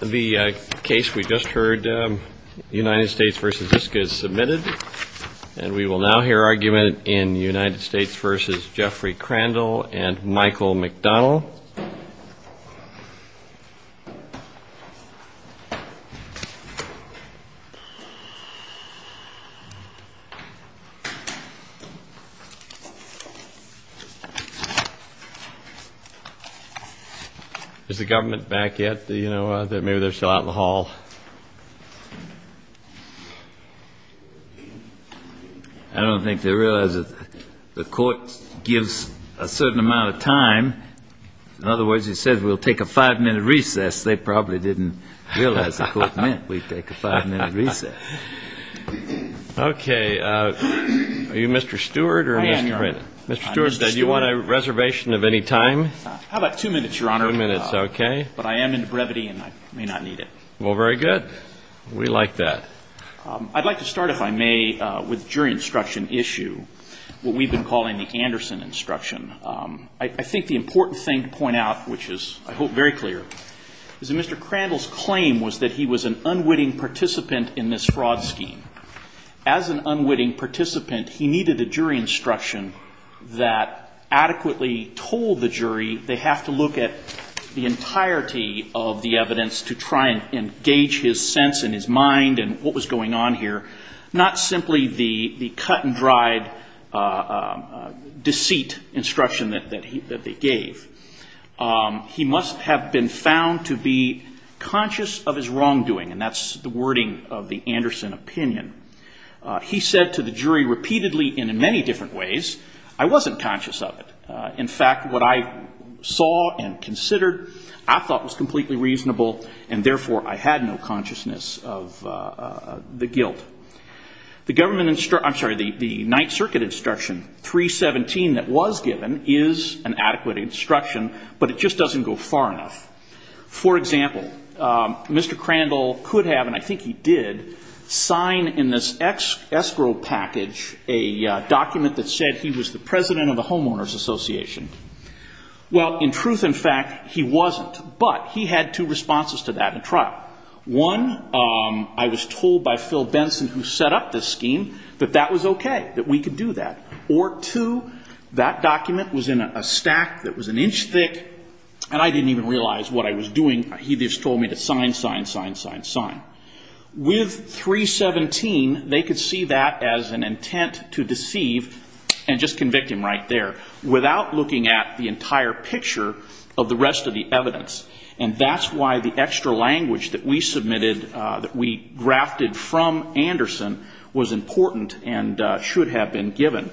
The case we just heard, United States v. Iska, is submitted and we will now hear argument in United States v. Jeffrey Crandall and Michael McDonald. Is the government back yet? Maybe they're still out in the hall. I don't think they realize that the court gives a certain amount of time. In other words, it says we'll take a five-minute recess. They probably didn't realize the court meant we'd take a five-minute recess. Okay. Are you Mr. Stewart? I am, Your Honor. Mr. Stewart, do you want a reservation of any time? How about two minutes, Your Honor? Two minutes, okay. But I am in brevity and I may not need it. Well, very good. We like that. I'd like to start, if I may, with jury instruction issue, what we've been calling the Anderson instruction. I think the important thing to point out, which is, I hope, very clear, is that Mr. Crandall's claim was that he was an unwitting participant in this fraud scheme. As an unwitting participant, he needed a jury instruction that adequately told the jury they have to look at the entirety of the evidence to try and gauge his sense and his mind and what was going on here, not simply the cut-and-dried deceit instruction that they gave. He must have been found to be conscious of his wrongdoing, and that's the wording of the Anderson opinion. He said to the jury repeatedly and in many different ways, I wasn't conscious of it. In fact, what I saw and considered, I thought was completely reasonable, and therefore, I had no consciousness of the guilt. The government instruction, I'm sorry, the Ninth Circuit instruction, 317 that was given, is an adequate instruction, but it just doesn't go far enough. For example, Mr. Crandall could have, and I think he did, sign in this escrow package a document that said he was the president of the homeowners association. Well, in truth and fact, he wasn't, but he had two responses to that in trial. One, I was told by Phil Benson, who set up this scheme, that that was okay, that we could do that. Or two, that document was in a stack that was an inch thick, and I didn't even realize what I was doing. He just told me to sign, sign, sign, sign, sign. With 317, they could see that as an intent to deceive and just convict him right there, without looking at the entire picture of the rest of the evidence. And that's why the extra language that we submitted, that we grafted from Anderson, was important and should have been given.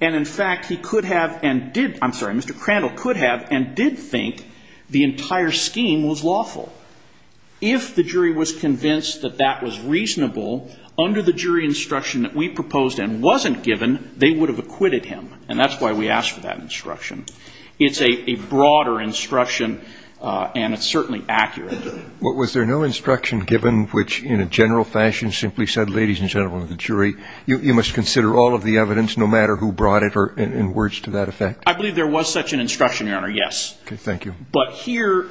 And in fact, he could have and did, I'm sorry, Mr. Crandall could have and did think the entire scheme was lawful. If the jury was convinced that that was reasonable, under the jury instruction that we proposed and wasn't given, they would have acquitted him. And that's why we asked for that instruction. It's a broader instruction, and it's certainly accurate. Was there no instruction given which, in a general fashion, simply said, ladies and gentlemen of the jury, you must consider all of the evidence, no matter who brought it, or in words to that effect? I believe there was such an instruction, Your Honor, yes. Okay, thank you. But here,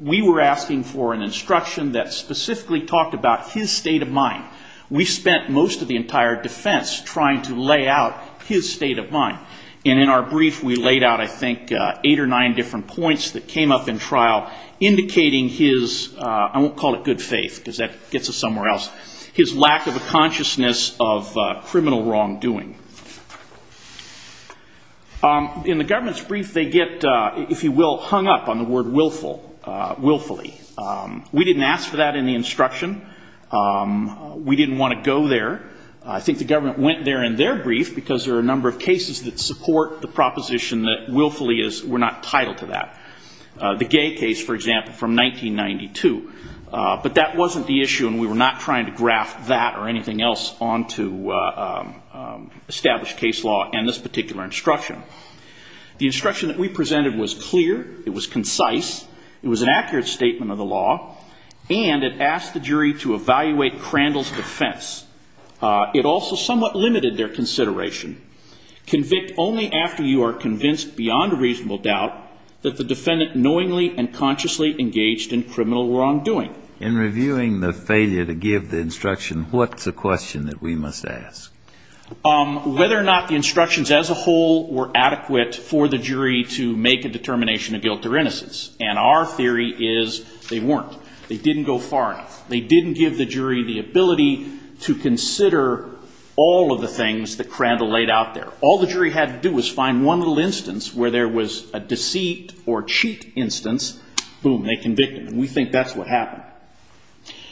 we were asking for an instruction that specifically talked about his state of mind. We spent most of the entire defense trying to lay out his state of mind. And in our brief, we laid out, I think, eight or nine different points that came up in trial, indicating his, I won't call it good faith, because that gets us somewhere else, his lack of a consciousness of criminal wrongdoing. In the government's brief, they get, if you will, hung up on the word willful, willfully. We didn't ask for that in the instruction. We didn't want to go there. I think the government went there in their brief because there are a number of cases that support the proposition that willfully is, we're not titled to that. The Gay case, for example, from 1992. But that wasn't the issue, and we were not trying to graft that or anything else onto established case law and this particular instruction. The instruction that we presented was clear. It was concise. It was an accurate statement of the law. And it asked the jury to evaluate Crandall's defense. It also somewhat limited their consideration. Convict only after you are convinced beyond a reasonable doubt that the defendant knowingly and consciously engaged in criminal wrongdoing. In reviewing the failure to give the instruction, what's the question that we must ask? Whether or not the instructions as a whole were adequate for the jury to make a determination of guilt or innocence. And our theory is they weren't. They didn't go far enough. They didn't give the jury the ability to consider all of the things that Crandall laid out there. All the jury had to do was find one little instance where there was a deceit or cheat instance. Boom, they convicted them. We think that's what happened.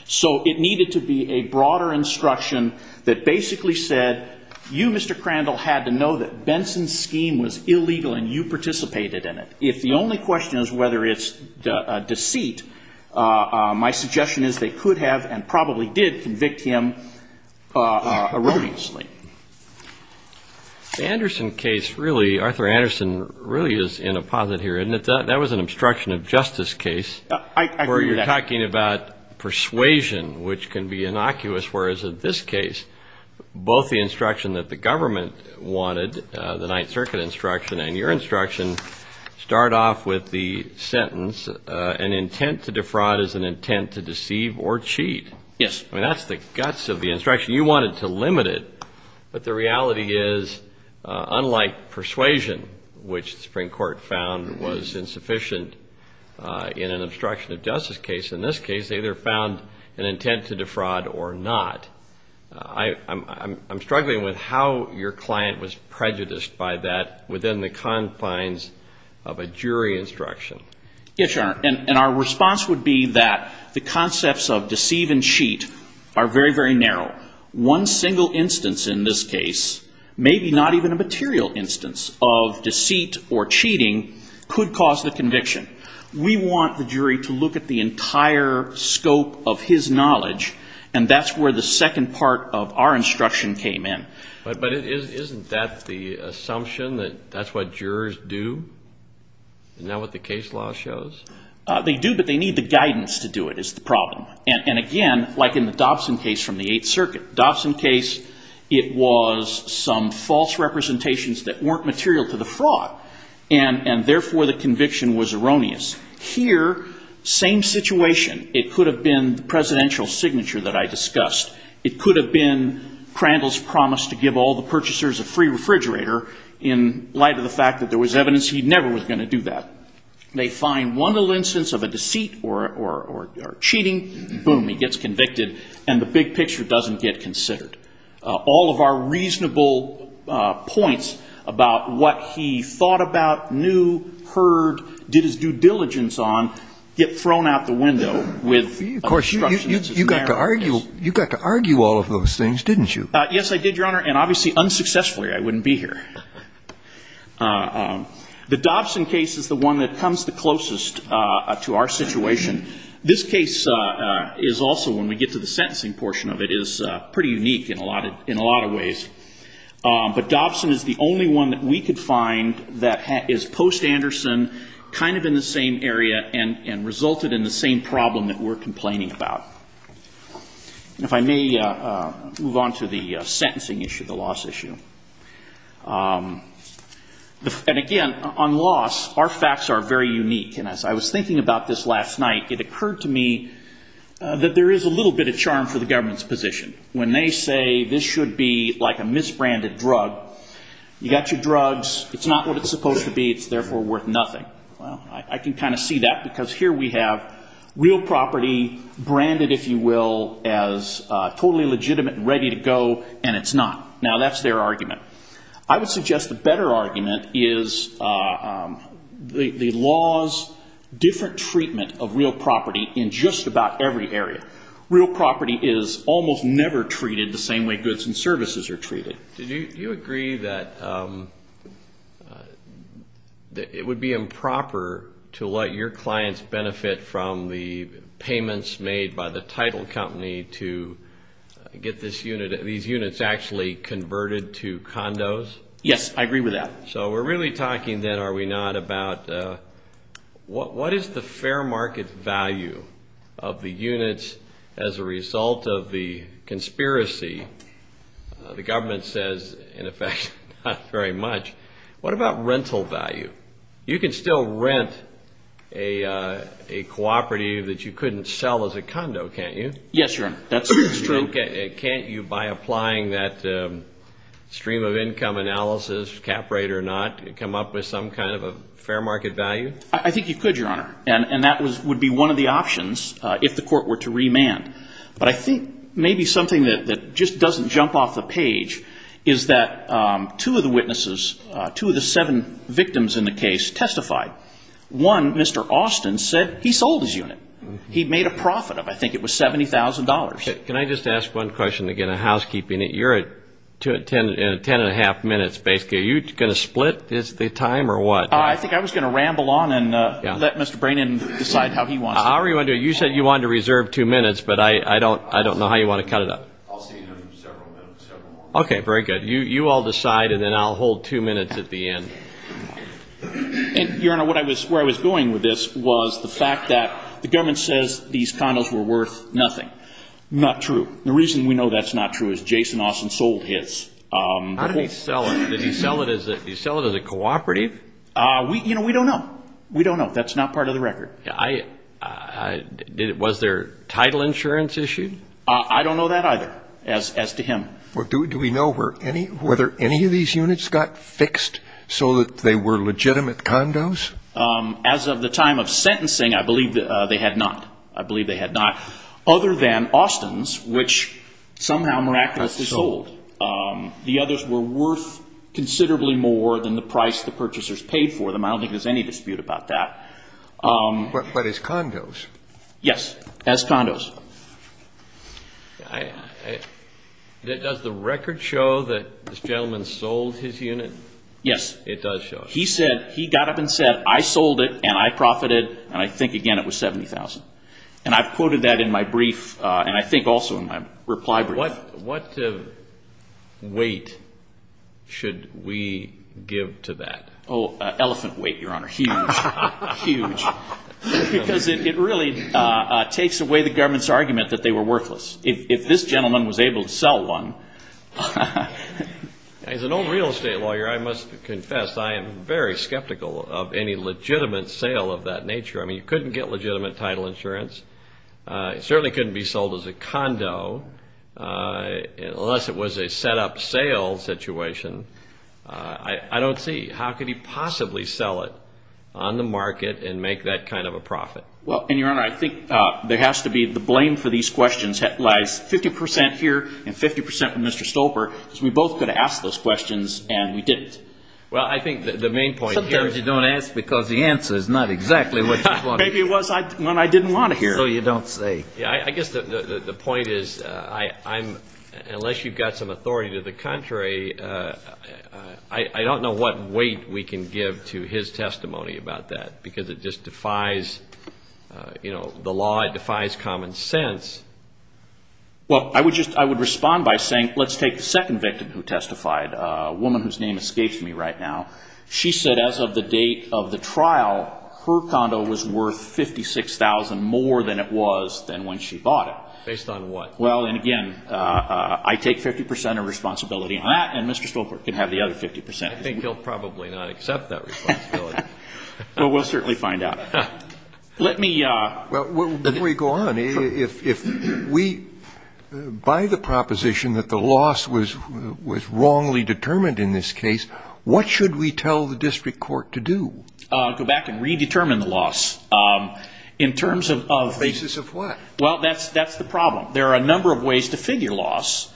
So it needed to be a broader instruction that basically said, you, Mr. Crandall, had to know that Benson's scheme was illegal and you participated in it. If the only question is whether it's a deceit, my suggestion is they could have and probably did convict him erroneously. The Anderson case really, Arthur Anderson, really is in a posit here, isn't it? That was an obstruction of justice case. I agree with that. Where you're talking about persuasion, which can be innocuous, whereas in this case, both the instruction that the government wanted, the Ninth Circuit instruction and your instruction, start off with the sentence, an intent to defraud is an intent to deceive or cheat. Yes. I mean, that's the guts of the instruction. You wanted to limit it. But the reality is, unlike persuasion, which the Supreme Court found was insufficient in an obstruction of justice case, in this case, they either found an intent to defraud or not. I'm struggling with how your client was prejudiced by that within the confines of a jury instruction. Yes, Your Honor. And our response would be that the concepts of deceive and cheat are very, very narrow. One single instance in this case, maybe not even a material instance of deceit or cheating, could cause the conviction. We want the jury to look at the entire scope of his knowledge, and that's where the second part of our instruction came in. But isn't that the assumption that that's what jurors do? Isn't that what the case law shows? They do, but they need the guidance to do it, is the problem. And, again, like in the Dobson case from the Eighth Circuit, Dobson case, it was some false representations that weren't material to the fraud, and, therefore, the conviction was erroneous. Here, same situation. It could have been the presidential signature that I discussed. It could have been Crandall's promise to give all the purchasers a free refrigerator in light of the fact that there was evidence he never was going to do that. They find one little instance of a deceit or cheating, boom, he gets convicted, and the big picture doesn't get considered. All of our reasonable points about what he thought about, knew, heard, did his due diligence on get thrown out the window with obstructions. Of course, you got to argue all of those things, didn't you? Yes, I did, Your Honor, and, obviously, unsuccessfully, I wouldn't be here. The Dobson case is the one that comes the closest to our situation. This case is also, when we get to the sentencing portion of it, is pretty unique in a lot of ways. But Dobson is the only one that we could find that is post-Anderson, kind of in the same area, and resulted in the same problem that we're complaining about. If I may move on to the sentencing issue, the loss issue. And, again, on loss, our facts are very unique. And as I was thinking about this last night, it occurred to me that there is a little bit of charm for the government's position. When they say this should be like a misbranded drug, you got your drugs, it's not what it's supposed to be, it's therefore worth nothing. Well, I can kind of see that, because here we have real property, branded, if you will, as totally legitimate and ready to go, and it's not. Now, that's their argument. I would suggest the better argument is the law's different treatment of real property in just about every area. Real property is almost never treated the same way goods and services are treated. Do you agree that it would be improper to let your clients benefit from the payments made by the title company to get these units actually converted to condos? Yes, I agree with that. So we're really talking then, are we not, about what is the fair market value of the units as a result of the conspiracy? The government says, in effect, not very much. What about rental value? You can still rent a cooperative that you couldn't sell as a condo, can't you? Yes, Your Honor, that's true. Can't you, by applying that stream of income analysis, cap rate or not, come up with some kind of a fair market value? I think you could, Your Honor, and that would be one of the options if the court were to remand. But I think maybe something that just doesn't jump off the page is that two of the witnesses, two of the seven victims in the case testified. One, Mr. Austin, said he sold his unit. He made a profit of, I think it was $70,000. Can I just ask one question again on housekeeping? You're at 10 and a half minutes, basically. Are you going to split the time or what? I think I was going to ramble on and let Mr. Brannon decide how he wants to do it. You said you wanted to reserve two minutes, but I don't know how you want to cut it up. I'll save him several minutes. Okay, very good. You all decide, and then I'll hold two minutes at the end. Your Honor, where I was going with this was the fact that the government says these condos were worth nothing. Not true. The reason we know that's not true is Jason Austin sold his. How did he sell it? Did he sell it as a cooperative? We don't know. We don't know. That's not part of the record. Was there title insurance issue? I don't know that either, as to him. Do we know whether any of these units got fixed so that they were legitimate condos? As of the time of sentencing, I believe they had not. I believe they had not, other than Austin's, which somehow miraculously sold. The others were worth considerably more than the price the purchasers paid for them. I don't think there's any dispute about that. But as condos? Yes, as condos. Does the record show that this gentleman sold his unit? Yes. It does show it. He got up and said, I sold it, and I profited, and I think, again, it was $70,000. And I've quoted that in my brief, and I think also in my reply brief. What weight should we give to that? Oh, elephant weight, Your Honor, huge, huge. Because it really takes away the government's argument that they were worthless. If this gentleman was able to sell one. As an old real estate lawyer, I must confess I am very skeptical of any legitimate sale of that nature. I mean, you couldn't get legitimate title insurance. It certainly couldn't be sold as a condo unless it was a set-up sale situation. I don't see how could he possibly sell it on the market and make that kind of a profit. Well, and, Your Honor, I think there has to be the blame for these questions lies 50% here and 50% with Mr. Stolper, because we both could have asked those questions and we didn't. Well, I think the main point here is you don't ask because the answer is not exactly what you want to hear. Maybe it was one I didn't want to hear. So you don't say. Yeah, I guess the point is unless you've got some authority to the contrary, I don't know what weight we can give to his testimony about that because it just defies the law. It defies common sense. Well, I would respond by saying let's take the second victim who testified, a woman whose name escapes me right now. She said as of the date of the trial, her condo was worth $56,000 more than it was than when she bought it. Based on what? Well, and, again, I take 50% of responsibility on that, and Mr. Stolper can have the other 50%. I think he'll probably not accept that responsibility. Well, we'll certainly find out. Let me ---- Well, before you go on, if we, by the proposition that the loss was wrongly determined in this case, what should we tell the district court to do? Go back and redetermine the loss. In terms of ---- Basis of what? Well, that's the problem. There are a number of ways to figure loss.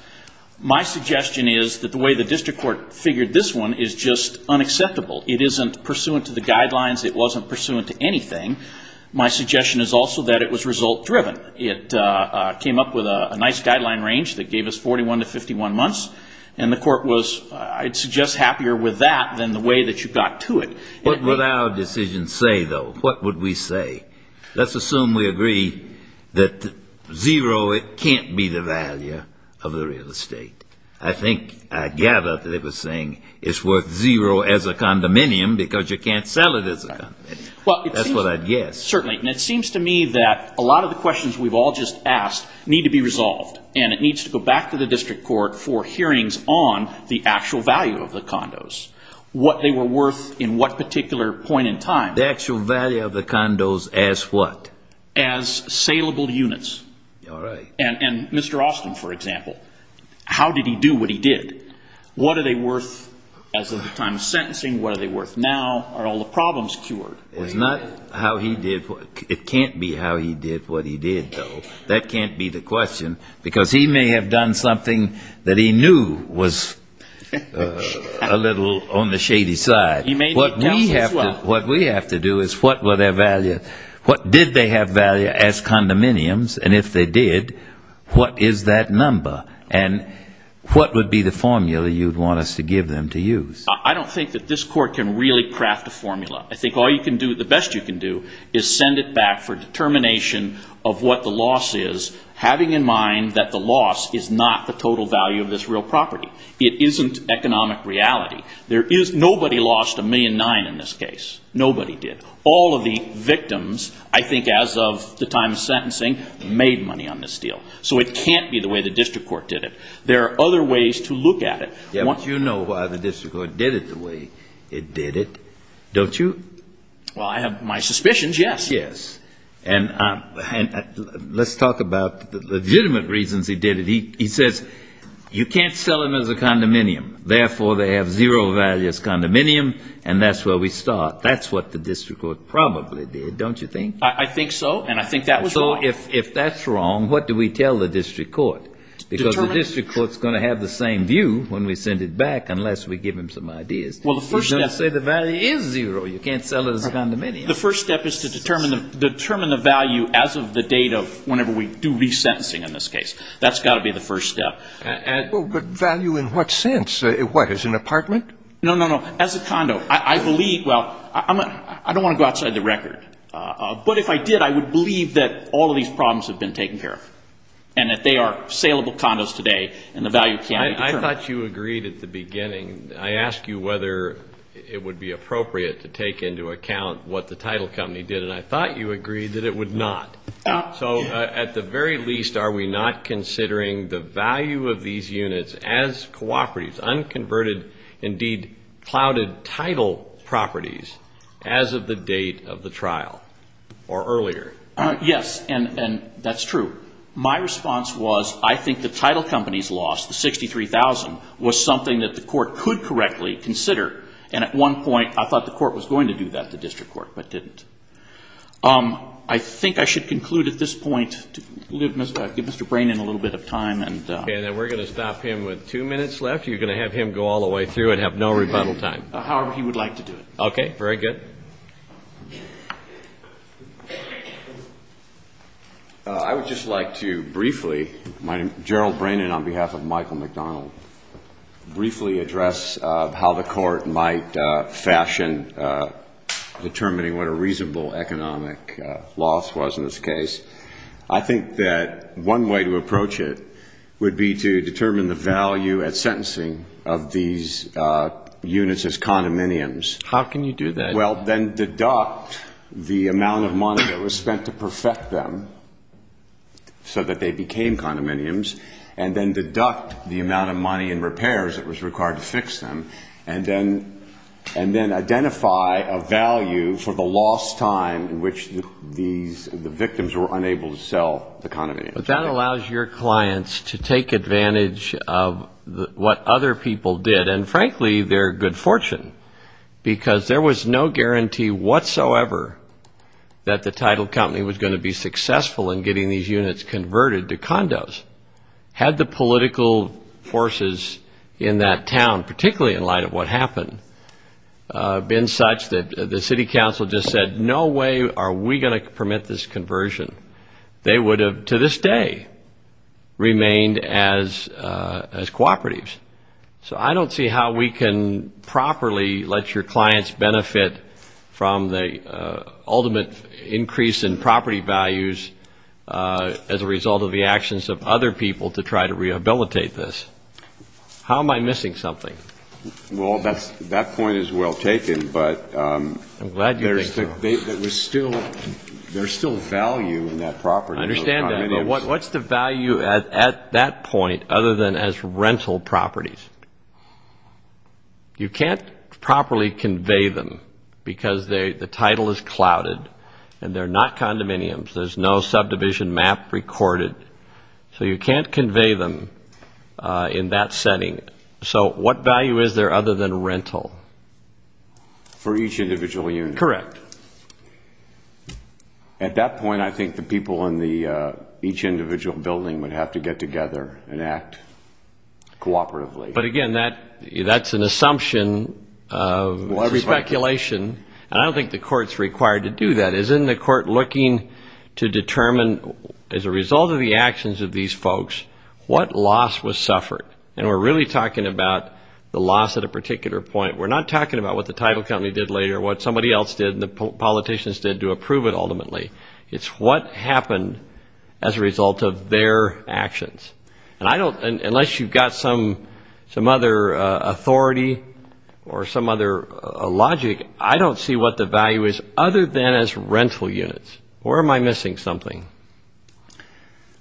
My suggestion is that the way the district court figured this one is just unacceptable. It isn't pursuant to the guidelines. It wasn't pursuant to anything. My suggestion is also that it was result-driven. It came up with a nice guideline range that gave us 41 to 51 months, and the court was, I'd suggest, happier with that than the way that you got to it. What would our decision say, though? What would we say? Let's assume we agree that zero, it can't be the value of the real estate. I think I gather they were saying it's worth zero as a condominium because you can't sell it as a condominium. That's what I'd guess. Certainly, and it seems to me that a lot of the questions we've all just asked need to be resolved, and it needs to go back to the district court for hearings on the actual value of the condos, what they were worth in what particular point in time. The actual value of the condos as what? As saleable units. All right. And Mr. Austin, for example, how did he do what he did? What are they worth as of the time of sentencing? What are they worth now? Are all the problems cured? It's not how he did what he did. It can't be how he did what he did, though. That can't be the question, because he may have done something that he knew was a little on the shady side. What we have to do is what were their value? What did they have value as condominiums, and if they did, what is that number? And what would be the formula you'd want us to give them to use? I don't think that this court can really craft a formula. I think all you can do, the best you can do, is send it back for determination of what the loss is, having in mind that the loss is not the total value of this real property. It isn't economic reality. Nobody lost a million nine in this case. Nobody did. All of the victims, I think as of the time of sentencing, made money on this deal. So it can't be the way the district court did it. There are other ways to look at it. But you know why the district court did it the way it did it, don't you? Well, I have my suspicions, yes. Yes. And let's talk about the legitimate reasons he did it. He says you can't sell them as a condominium. Therefore, they have zero value as condominium, and that's where we start. That's what the district court probably did, don't you think? I think so, and I think that was wrong. Well, if that's wrong, what do we tell the district court? Because the district court is going to have the same view when we send it back, unless we give them some ideas. He's going to say the value is zero. You can't sell it as a condominium. The first step is to determine the value as of the date of whenever we do resentencing in this case. That's got to be the first step. But value in what sense? What, as an apartment? No, no, no, as a condo. I believe, well, I don't want to go outside the record. But if I did, I would believe that all of these problems have been taken care of and that they are saleable condos today and the value can be determined. I thought you agreed at the beginning. I asked you whether it would be appropriate to take into account what the title company did, and I thought you agreed that it would not. So at the very least, are we not considering the value of these units as cooperatives, unconverted, indeed clouded title properties as of the date of the trial or earlier? Yes, and that's true. My response was I think the title company's loss, the $63,000, was something that the court could correctly consider, and at one point I thought the court was going to do that, the district court, but didn't. I think I should conclude at this point. Give Mr. Brannon a little bit of time. Okay, then we're going to stop him with two minutes left. You're going to have him go all the way through and have no rebuttal time. However he would like to do it. Okay, very good. I would just like to briefly, my name is Gerald Brannon on behalf of Michael McDonald, briefly address how the court might fashion determining what a reasonable economic loss was in this case. I think that one way to approach it would be to determine the value at sentencing of these units as condominiums. How can you do that? Well, then deduct the amount of money that was spent to perfect them so that they became condominiums, and then deduct the amount of money in repairs that was required to fix them, and then identify a value for the lost time in which the victims were unable to sell the condominiums. But that allows your clients to take advantage of what other people did, and frankly they're good fortune, because there was no guarantee whatsoever that the title company was going to be successful in getting these units converted to condos. Had the political forces in that town, particularly in light of what happened, been such that the city council just said no way are we going to permit this conversion, they would have to this day remained as cooperatives. So I don't see how we can properly let your clients benefit from the ultimate increase in property values as a result of the actions of other people to try to rehabilitate this. How am I missing something? Well, that point is well taken, but there's still value in that property. I understand that, but what's the value at that point other than as rental properties? You can't properly convey them because the title is clouded, and they're not condominiums. There's no subdivision map recorded. So you can't convey them in that setting. So what value is there other than rental? For each individual unit. Correct. At that point, I think the people in each individual building would have to get together and act cooperatively. But again, that's an assumption, speculation, and I don't think the court's required to do that. Isn't the court looking to determine as a result of the actions of these folks what loss was suffered? And we're really talking about the loss at a particular point. We're not talking about what the title company did later, what somebody else did, and the politicians did to approve it ultimately. It's what happened as a result of their actions. And unless you've got some other authority or some other logic, I don't see what the value is other than as rental units, or am I missing something?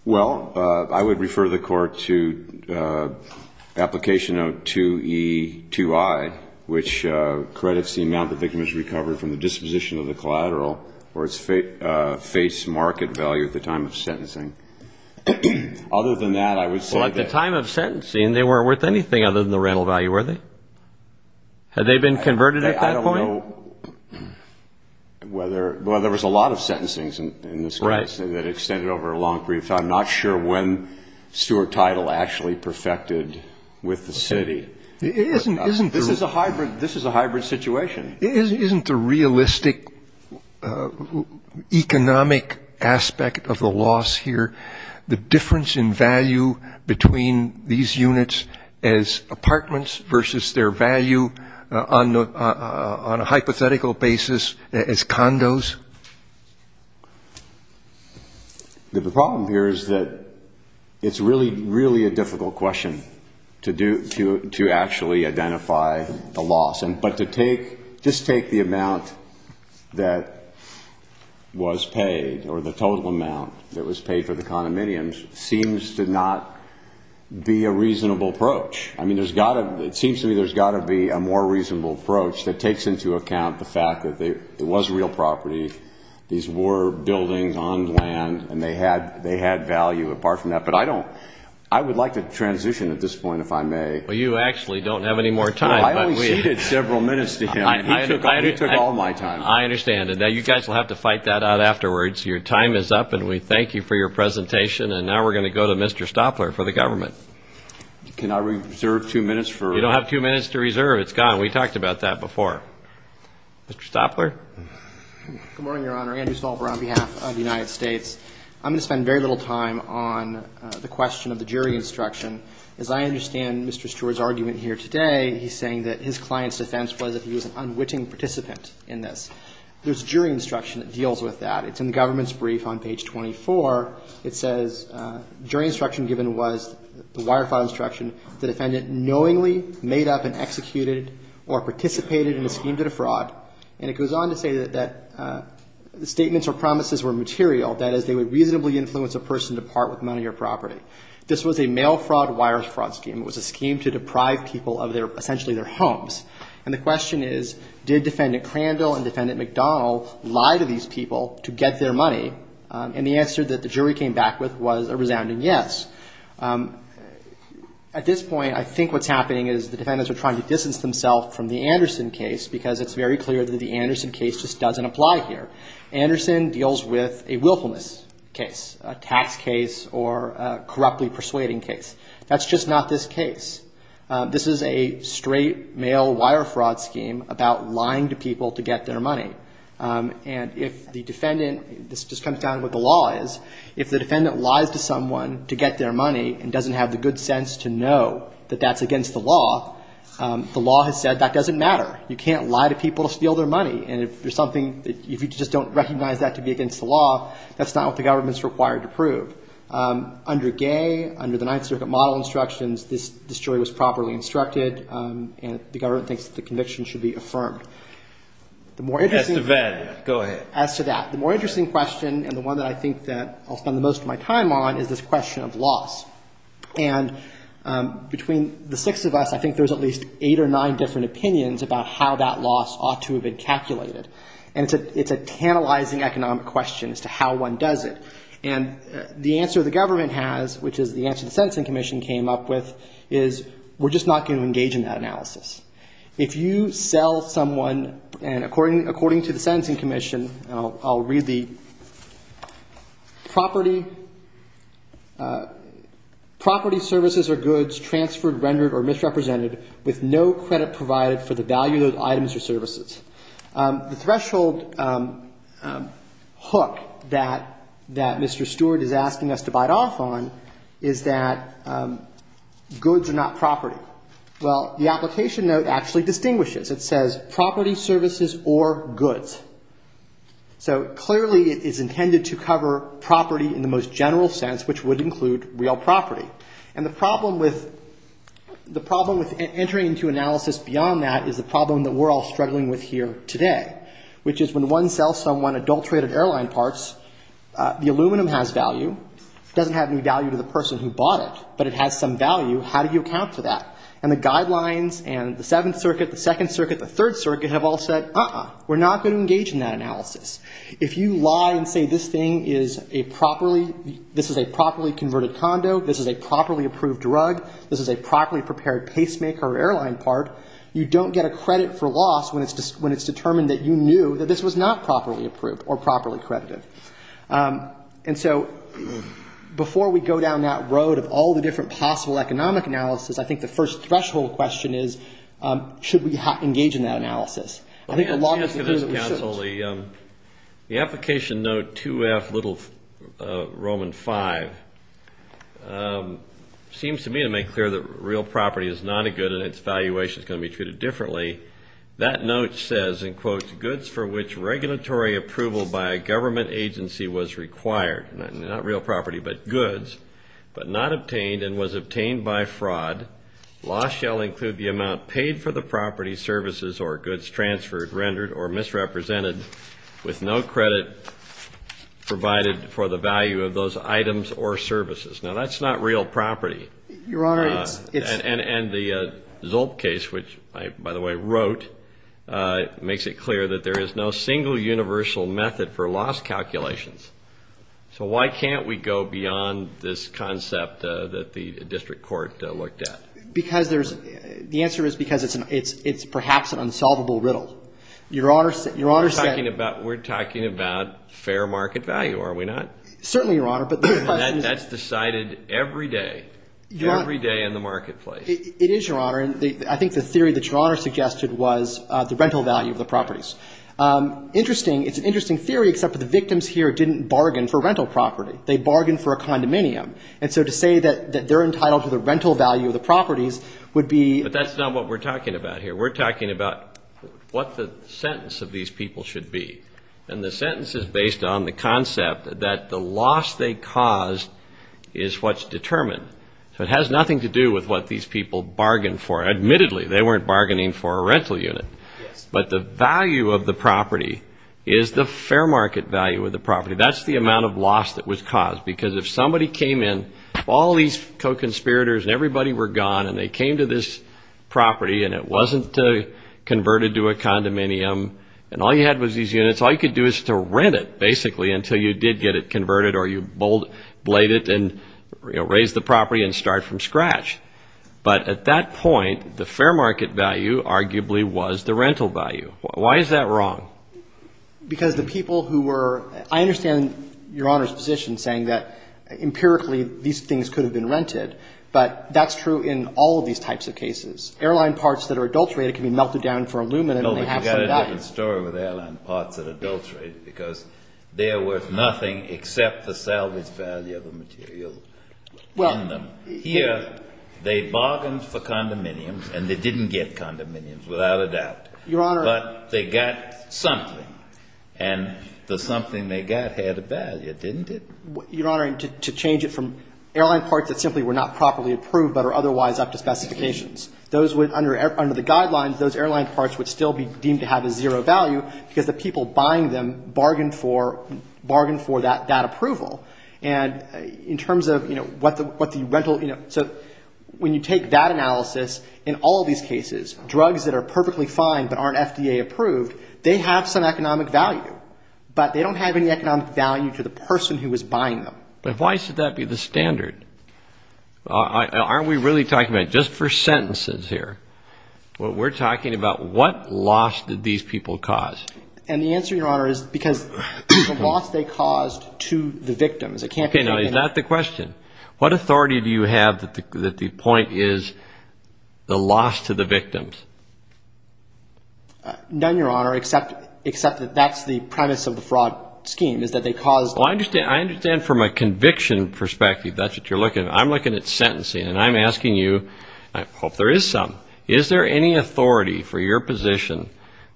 Well, I would refer the court to application of 2E2I, which credits the amount the victim has recovered from the disposition of the collateral or its face market value at the time of sentencing. Other than that, I would say that at the time of sentencing, they weren't worth anything other than the rental value, were they? Had they been converted at that point? I don't know whether there was a lot of sentencing in this case that extended over a long period of time. I'm not sure when Stuart Title actually perfected with the city. This is a hybrid situation. Isn't the realistic economic aspect of the loss here, the difference in value between these units as apartments versus their value on a hypothetical basis as condos? The problem here is that it's really, really a difficult question to actually identify the loss, but to just take the amount that was paid or the total amount that was paid for the condominiums seems to not be a reasonable approach. I mean, it seems to me there's got to be a more reasonable approach that takes into account the fact that it was real property, these were buildings on land, and they had value apart from that. But I would like to transition at this point, if I may. Well, you actually don't have any more time. I only ceded several minutes to him. He took all my time. I understand. Now, you guys will have to fight that out afterwards. Your time is up, and we thank you for your presentation. And now we're going to go to Mr. Stopler for the government. Can I reserve two minutes for – You don't have two minutes to reserve. It's gone. We talked about that before. Mr. Stopler? Good morning, Your Honor. Andrew Stolper on behalf of the United States. I'm going to spend very little time on the question of the jury instruction. As I understand Mr. Stewart's argument here today, he's saying that his client's defense was that he was an unwitting participant in this. There's jury instruction that deals with that. It's in the government's brief on page 24. It says, jury instruction given was the wire file instruction, the defendant knowingly made up and executed or participated in a scheme to defraud. And it goes on to say that statements or promises were material, that is, they would reasonably influence a person to part with money or property. This was a mail fraud, wire fraud scheme. It was a scheme to deprive people of essentially their homes. And the question is, did Defendant Crandall and Defendant McDonald lie to these people to get their money? And the answer that the jury came back with was a resounding yes. At this point, I think what's happening is the defendants are trying to distance themselves from the Anderson case because it's very clear that the Anderson case just doesn't apply here. Anderson deals with a willfulness case, a tax case or a corruptly persuading case. That's just not this case. This is a straight mail wire fraud scheme about lying to people to get their money. And if the defendant, this just comes down to what the law is, if the defendant lies to someone to get their money and doesn't have the good sense to know that that's against the law, the law has said that doesn't matter. You can't lie to people to steal their money. And if there's something, if you just don't recognize that to be against the law, that's not what the government's required to prove. Under Gay, under the Ninth Circuit model instructions, this jury was properly instructed and the government thinks that the conviction should be affirmed. As to that, the more interesting question and the one that I think that I'll spend the most of my time on is this question of loss. And between the six of us, I think there's at least eight or nine different opinions about how that loss ought to have been calculated. And it's a tantalizing economic question as to how one does it. And the answer the government has, which is the answer the Sentencing Commission came up with, is we're just not going to engage in that analysis. If you sell someone, and according to the Sentencing Commission, and I'll read the property, property services or goods transferred, rendered, or misrepresented with no credit provided for the value of those items or services. The threshold hook that Mr. Stewart is asking us to bite off on is that goods are not property. Well, the application note actually distinguishes. It says property services or goods. So clearly it's intended to cover property in the most general sense, which would include real property. And the problem with entering into analysis beyond that is the problem that we're all struggling with here today, which is when one sells someone adulterated airline parts, the aluminum has value, doesn't have any value to the person who bought it, but it has some value. How do you account for that? And the guidelines and the Seventh Circuit, the Second Circuit, the Third Circuit have all said, uh-uh, we're not going to engage in that analysis. If you lie and say this thing is a properly, this is a properly converted condo, this is a properly approved drug, this is a properly prepared pacemaker or airline part, you don't get a credit for loss when it's determined that you knew that this was not properly approved or properly credited. And so before we go down that road of all the different possible economic analysis, I think the first threshold question is, should we engage in that analysis? I think the law... Let me ask you this, counsel. The application note 2F little Roman 5 seems to me to make clear that real property is not a good and its valuation is going to be treated differently. That note says, in quotes, goods for which regulatory approval by a government agency was required, not real property, but goods, but not obtained and was obtained by fraud, loss shall include the amount paid for the property, services, or goods transferred, rendered, or misrepresented with no credit provided for the value of those items or services. Now, that's not real property. And the Zulp case, which I, by the way, wrote, makes it clear that there is no single universal method for loss calculations. So why can't we go beyond this concept that the district court looked at? Because there's, the answer is because it's perhaps an unsolvable riddle. Your Honor said... We're talking about fair market value, are we not? Certainly, Your Honor. And that's decided every day, every day in the marketplace. It is, Your Honor. And I think the theory that Your Honor suggested was the rental value of the properties. Interesting. It's an interesting theory, except that the victims here didn't bargain for rental property. They bargained for a condominium. And so to say that they're entitled to the rental value of the properties would be... But that's not what we're talking about here. We're talking about what the sentence of these people should be. And the sentence is based on the concept that the loss they caused is what's determined. So it has nothing to do with what these people bargained for. Admittedly, they weren't bargaining for a rental unit. But the value of the property is the fair market value of the property. That's the amount of loss that was caused. Because if somebody came in, all these co-conspirators and everybody were gone, and they came to this property, and it wasn't converted to a condominium, and all you had was these units, all you could do is to rent it, basically, until you did get it converted or you blade it and raise the property and start from scratch. But at that point, the fair market value arguably was the rental value. Why is that wrong? Because the people who were — I understand Your Honor's position saying that, empirically, these things could have been rented. But that's true in all of these types of cases. Airline parts that are adulterated can be melted down for aluminum, and they have some of that. No, but you've got a different story with airline parts that are adulterated, because they're worth nothing except the salvage value of the material in them. Well... Here, they bargained for condominiums, and they didn't get condominiums, without a doubt. Your Honor... But they got something, and the something they got had a value, didn't it? Your Honor, to change it from airline parts that simply were not properly approved but are otherwise up to specifications, those would — under the guidelines, those airline parts would still be deemed to have a zero value, because the people buying them bargained for that approval. And in terms of, you know, what the rental — you know, so when you take that analysis, in all these cases, drugs that are perfectly fine but aren't FDA approved, they have some economic value, but they don't have any economic value to the person who was buying them. But why should that be the standard? Aren't we really talking about just for sentences here? We're talking about what loss did these people cause? And the answer, Your Honor, is because the loss they caused to the victims. Okay, now, is that the question? What authority do you have that the point is the loss to the victims? None, Your Honor, except that that's the premise of the fraud scheme, is that they caused... Well, I understand from a conviction perspective, that's what you're looking at. I'm looking at sentencing, and I'm asking you — I hope there is some — is there any authority for your position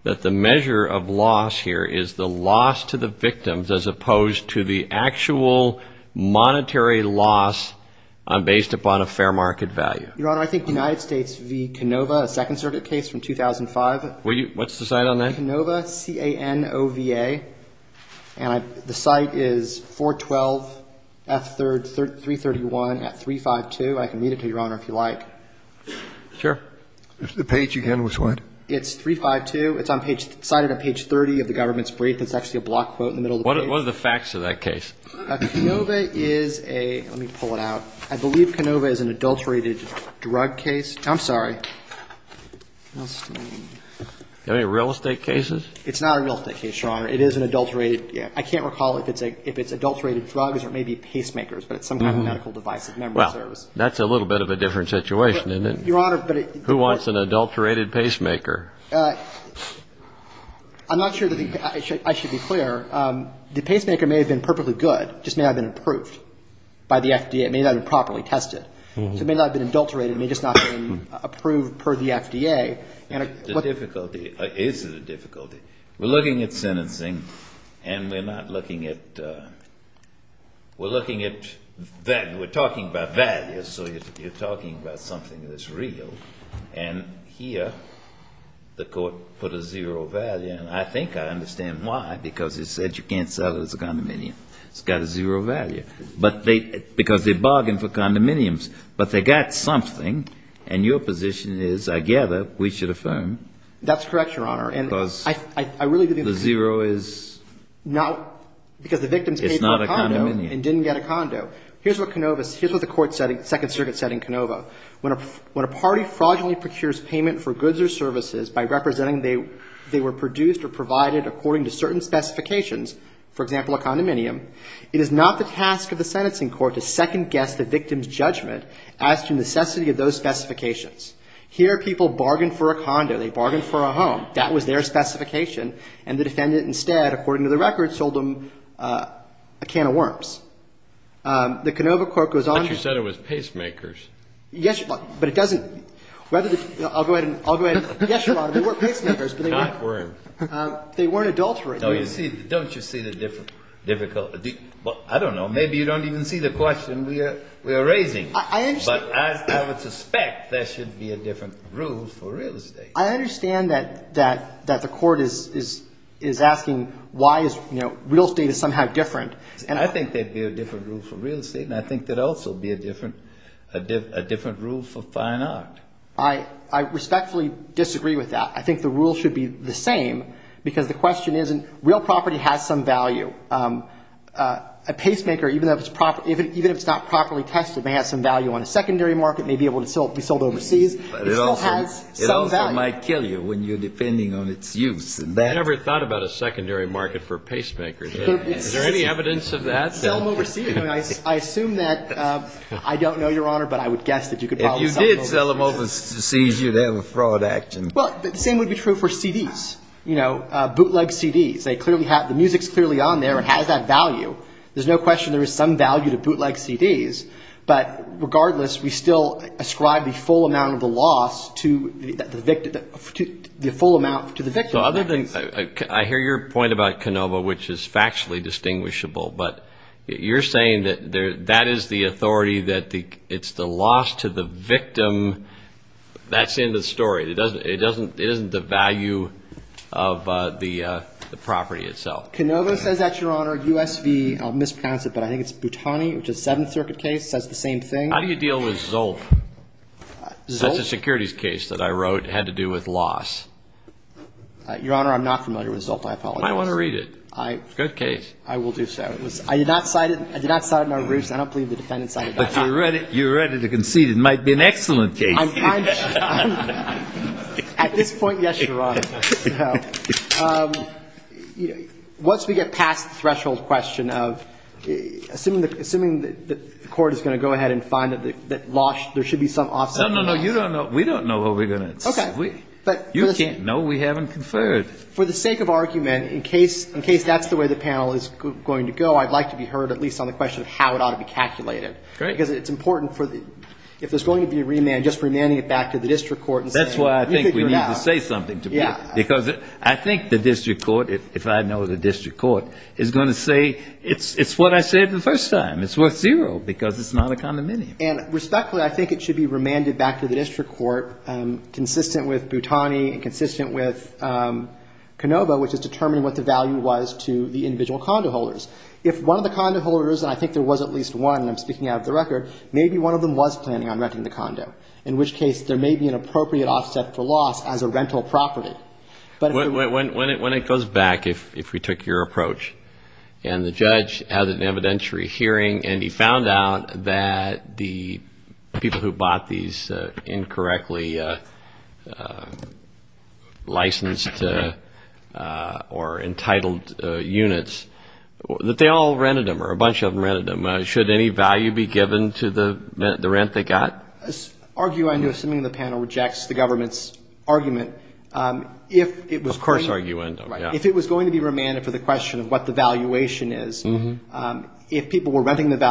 that the measure of loss here is the loss to the victims as opposed to the actual monetary loss based upon a fair market value? Your Honor, I think the United States v. Canova, a Second Circuit case from 2005. What's the site on that? Canova, C-A-N-O-V-A, and the site is 412F331 at 352. I can read it to you, Your Honor, if you like. Sure. The page again, which one? It's 352. It's cited on page 30 of the government's brief. It's actually a block quote in the middle of the page. What are the facts of that case? Canova is a — let me pull it out. I believe Canova is an adulterated drug case. I'm sorry. Do you have any real estate cases? It's not a real estate case, Your Honor. It is an adulterated — I can't recall if it's adulterated drugs or maybe pacemakers, but it's some kind of medical device, a memory service. Well, that's a little bit of a different situation, isn't it? Your Honor, but it — Who wants an adulterated pacemaker? I'm not sure that the — I should be clear. The pacemaker may have been perfectly good, just may not have been approved by the FDA. It may not have been properly tested. So it may not have been adulterated. It may just not have been approved per the FDA. It's a difficulty. It is a difficulty. We're looking at sentencing, and we're not looking at — we're looking at that. We're talking about values, so you're talking about something that's real. And here the court put a zero value, and I think I understand why, because it said you can't sell it as a condominium. It's got a zero value. But they — because they bargained for condominiums, but they got something, and your position is, I gather, we should affirm. That's correct, Your Honor. Because the zero is — No, because the victim paid for a condo and didn't get a condo. Here's what Konova — here's what the court said, Second Circuit said in Konova. When a party fraudulently procures payment for goods or services by representing they were produced or provided according to certain specifications, for example, a condominium, it is not the task of the sentencing court to second-guess the victim's judgment as to necessity of those specifications. Here people bargained for a condo. They bargained for a home. That was their specification, and the defendant instead, according to the record, sold them a can of worms. The Konova court goes on to — Yes, but it doesn't — I'll go ahead and — yes, Your Honor, they were pacemakers, but they weren't — Not worms. They weren't adulterated. Don't you see the different difficulty? Well, I don't know. Maybe you don't even see the question we are raising. I understand. But I would suspect there should be a different rule for real estate. I understand that the court is asking why is — you know, real estate is somehow different. I think there would be a different rule for real estate, and I think there would also be a different rule for fine art. I respectfully disagree with that. I think the rule should be the same because the question isn't real property has some value. A pacemaker, even if it's not properly tested, may have some value on a secondary market, may be able to be sold overseas. It still has some value. It also might kill you when you're depending on its use. I never thought about a secondary market for pacemakers. Is there any evidence of that? Sell them overseas. I assume that — I don't know, Your Honor, but I would guess that you could probably sell them overseas. If you did sell them overseas, you'd have a fraud action. Well, the same would be true for CDs, you know, bootleg CDs. They clearly have — the music is clearly on there. It has that value. There's no question there is some value to bootleg CDs. But regardless, we still ascribe the full amount of the loss to the — the full amount to the victim. So other than — I hear your point about Canova, which is factually distinguishable, but you're saying that that is the authority, that it's the loss to the victim. That's the end of the story. It doesn't — it isn't the value of the property itself. Canova says that, Your Honor. USV mispronounced it, but I think it's Boutani, which is a Seventh Circuit case, says the same thing. How do you deal with Zolp? Zolp? That's a securities case that I wrote. It had to do with loss. Your Honor, I'm not familiar with Zolp. I apologize. You might want to read it. Good case. I will do so. I did not cite it. I did not cite it in our briefs. I don't believe the defendant cited it. But if you're ready to concede, it might be an excellent case. At this point, yes, Your Honor. Once we get past the threshold question of assuming that the court is going to go ahead and find that loss, there should be some offset. No, no, no. You don't know. We don't know what we're going to say. Okay. You can't know. We haven't conferred. For the sake of argument, in case that's the way the panel is going to go, I'd like to be heard at least on the question of how it ought to be calculated. Great. Because it's important for the — if there's going to be a remand, just remanding it back to the district court and saying, you figured it out. Yeah. Because I think the district court, if I know the district court, is going to say, it's what I said the first time. It's worth zero because it's not a condominium. And respectfully, I think it should be remanded back to the district court, consistent with Boutani and consistent with Canova, which is determining what the value was to the individual condo holders. If one of the condo holders, and I think there was at least one, and I'm speaking out of the record, maybe one of them was planning on renting the condo, in which case there may be an appropriate offset for loss as a rental property. When it goes back, if we took your approach, and the judge has an evidentiary hearing, and he found out that the people who bought these incorrectly licensed or entitled units, that they all rented them or a bunch of them rented them. Should any value be given to the rent they got? Arguendo, assuming the panel rejects the government's argument, if it was going to be remanded for the question of what the valuation is, if people were renting them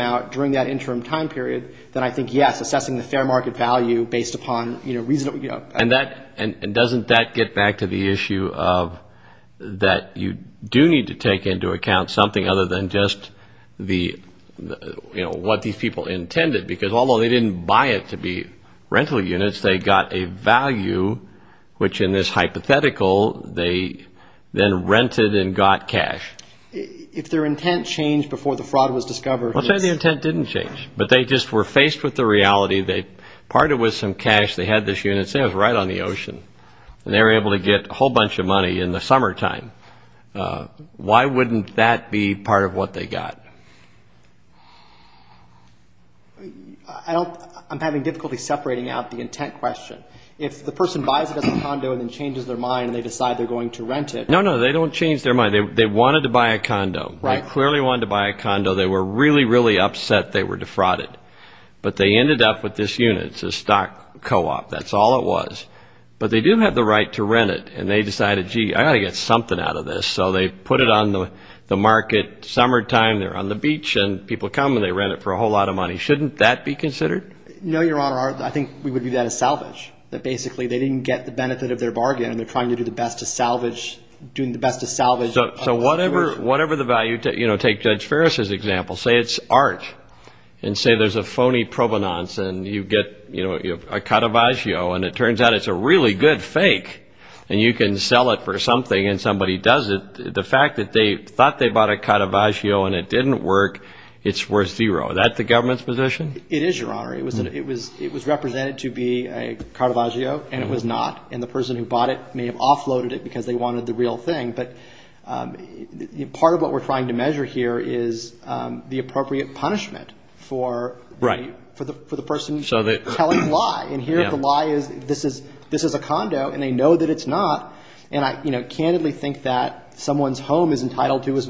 out during that interim time period, then I think, yes, assessing the fair market value based upon reasonable. And doesn't that get back to the issue of that you do need to take into account something other than just what these people intended? Because although they didn't buy it to be rental units, they got a value, which in this hypothetical they then rented and got cash. If their intent changed before the fraud was discovered. Let's say the intent didn't change, but they just were faced with the reality. They parted with some cash. They had this unit. It was right on the ocean. And they were able to get a whole bunch of money in the summertime. Why wouldn't that be part of what they got? I'm having difficulty separating out the intent question. If the person buys it as a condo and then changes their mind and they decide they're going to rent it. No, no. They don't change their mind. They wanted to buy a condo. They clearly wanted to buy a condo. They were really, really upset they were defrauded. But they ended up with this unit. It's a stock co-op. That's all it was. But they do have the right to rent it. And they decided, gee, I've got to get something out of this. So they put it on the market summertime. They're on the beach. And people come and they rent it for a whole lot of money. Shouldn't that be considered? No, Your Honor. I think we would view that as salvage. That basically they didn't get the benefit of their bargain and they're trying to do the best to salvage, doing the best to salvage. So whatever the value, take Judge Ferris' example. Say it's art. And say there's a phony provenance and you get a Caravaggio and it turns out it's a really good fake. And you can sell it for something and somebody does it. The fact that they thought they bought a Caravaggio and it didn't work, it's worth zero. Is that the government's position? It is, Your Honor. It was represented to be a Caravaggio and it was not. And the person who bought it may have offloaded it because they wanted the real thing. But part of what we're trying to measure here is the appropriate punishment for the person telling a lie. And here the lie is this is a condo and they know that it's not. And I candidly think that someone's home is entitled to as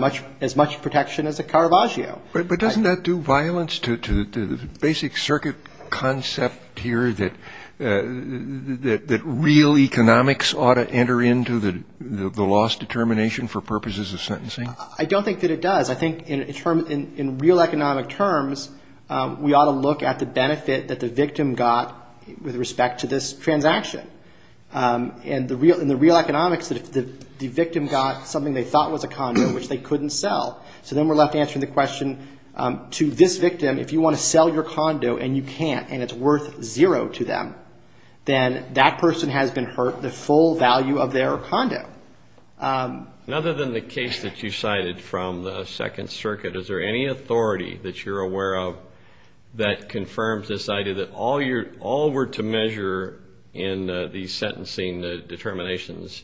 much protection as a Caravaggio. But doesn't that do violence to the basic circuit concept here that real economics ought to enter into the loss determination for purposes of sentencing? I don't think that it does. I think in real economic terms, we ought to look at the benefit that the victim got with respect to this transaction. And the real economics, the victim got something they thought was a condo, which they couldn't sell. So then we're left answering the question to this victim, if you want to sell your condo and you can't and it's worth zero to them, then that person has been hurt the full value of their condo. Other than the case that you cited from the Second Circuit, is there any authority that you're aware of that confirms this idea that all we're to measure in these sentencing determinations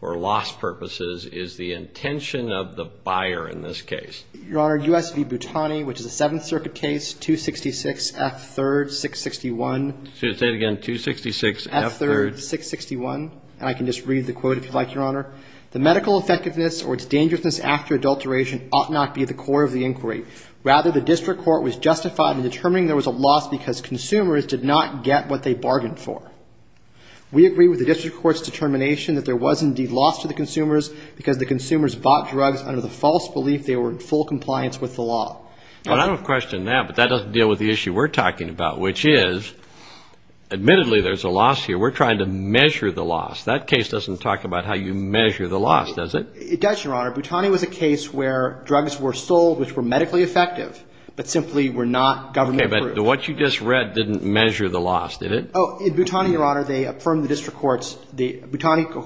for loss purposes is the intention of the buyer in this case? Your Honor, U.S. v. Boutani, which is a Seventh Circuit case, 266 F. 3rd, 661. Say it again. 266 F. 3rd, 661. And I can just read the quote if you'd like, Your Honor. The medical effectiveness or its dangerousness after adulteration ought not be the core of the inquiry. Rather, the district court was justified in determining there was a loss because consumers did not get what they bargained for. We agree with the district court's determination that there was indeed loss to the consumers because the consumers bought drugs under the false belief they were in full compliance with the law. Well, I don't question that, but that doesn't deal with the issue we're talking about, which is, admittedly, there's a loss here. We're trying to measure the loss. That case doesn't talk about how you measure the loss, does it? It does, Your Honor. Boutani was a case where drugs were sold, which were medically effective, but simply were not government approved. Okay, but what you just read didn't measure the loss, did it? Oh, in Boutani, Your Honor, they affirmed the district court's determination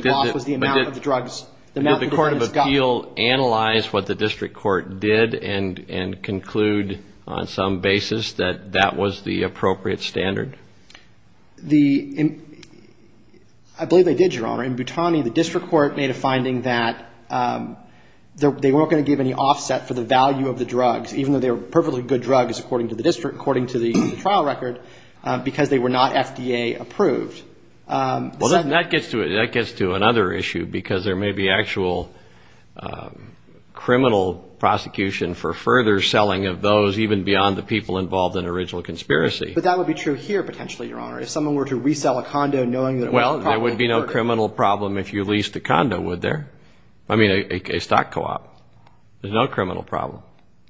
the loss was the amount of the drugs, the amount the court has gotten. But did the court of appeal analyze what the district court did and conclude on some basis that that was the appropriate standard? I believe they did, Your Honor. In Boutani, the district court made a finding that they weren't going to give any offset for the value of the drugs, even though they were perfectly good drugs according to the district, according to the trial record, because they were not FDA approved. Well, that gets to another issue because there may be actual criminal prosecution for further selling of those, even beyond the people involved in the original conspiracy. But that would be true here, potentially, Your Honor. If someone were to resell a condo knowing that it would probably be murdered. Well, there would be no criminal problem if you leased a condo, would there? I mean, a stock co-op. There's no criminal problem.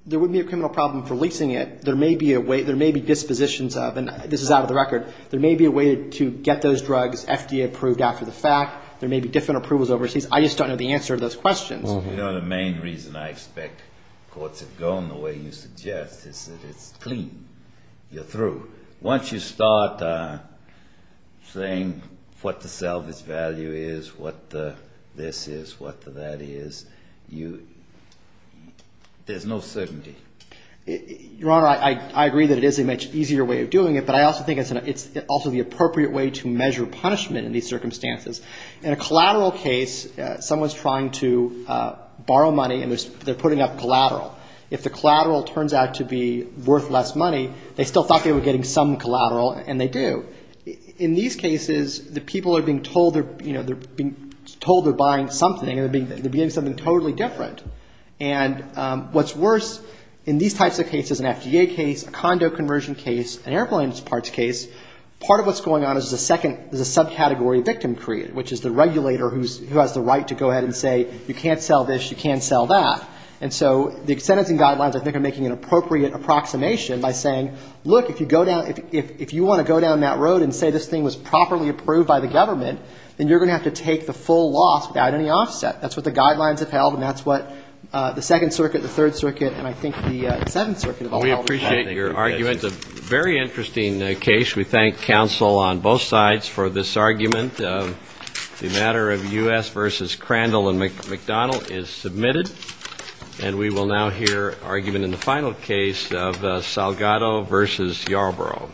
There would be a criminal problem for leasing it. There may be dispositions of, and this is out of the record, there may be a way to get those drugs FDA approved after the fact. There may be different approvals overseas. I just don't know the answer to those questions. You know, the main reason I expect courts have gone the way you suggest is that it's clean. You're through. Once you start saying what the salvage value is, what this is, what that is, there's no certainty. Your Honor, I agree that it is a much easier way of doing it, but I also think it's also the appropriate way to measure punishment in these circumstances. In a collateral case, someone's trying to borrow money, and they're putting up collateral. If the collateral turns out to be worth less money, they still thought they were getting some collateral, and they do. In these cases, the people are being told they're buying something, and they're getting something totally different. And what's worse in these types of cases, an FDA case, a condo conversion case, an airplane parts case, part of what's going on is a subcategory victim created, which is the regulator who has the right to go ahead and say, you can't sell this, you can't sell that. And so the sentencing guidelines, I think, are making an appropriate approximation by saying, look, if you want to go down that road and say this thing was properly approved by the government, then you're going to have to take the full loss without any offset. That's what the guidelines have held, and that's what the Second Circuit, the Third Circuit, and I think the Seventh Circuit have all held. I appreciate your argument. It's a very interesting case. We thank counsel on both sides for this argument. The matter of U.S. v. Crandall and McDonald is submitted, and we will now hear argument in the final case of Salgado v. Yarbrough.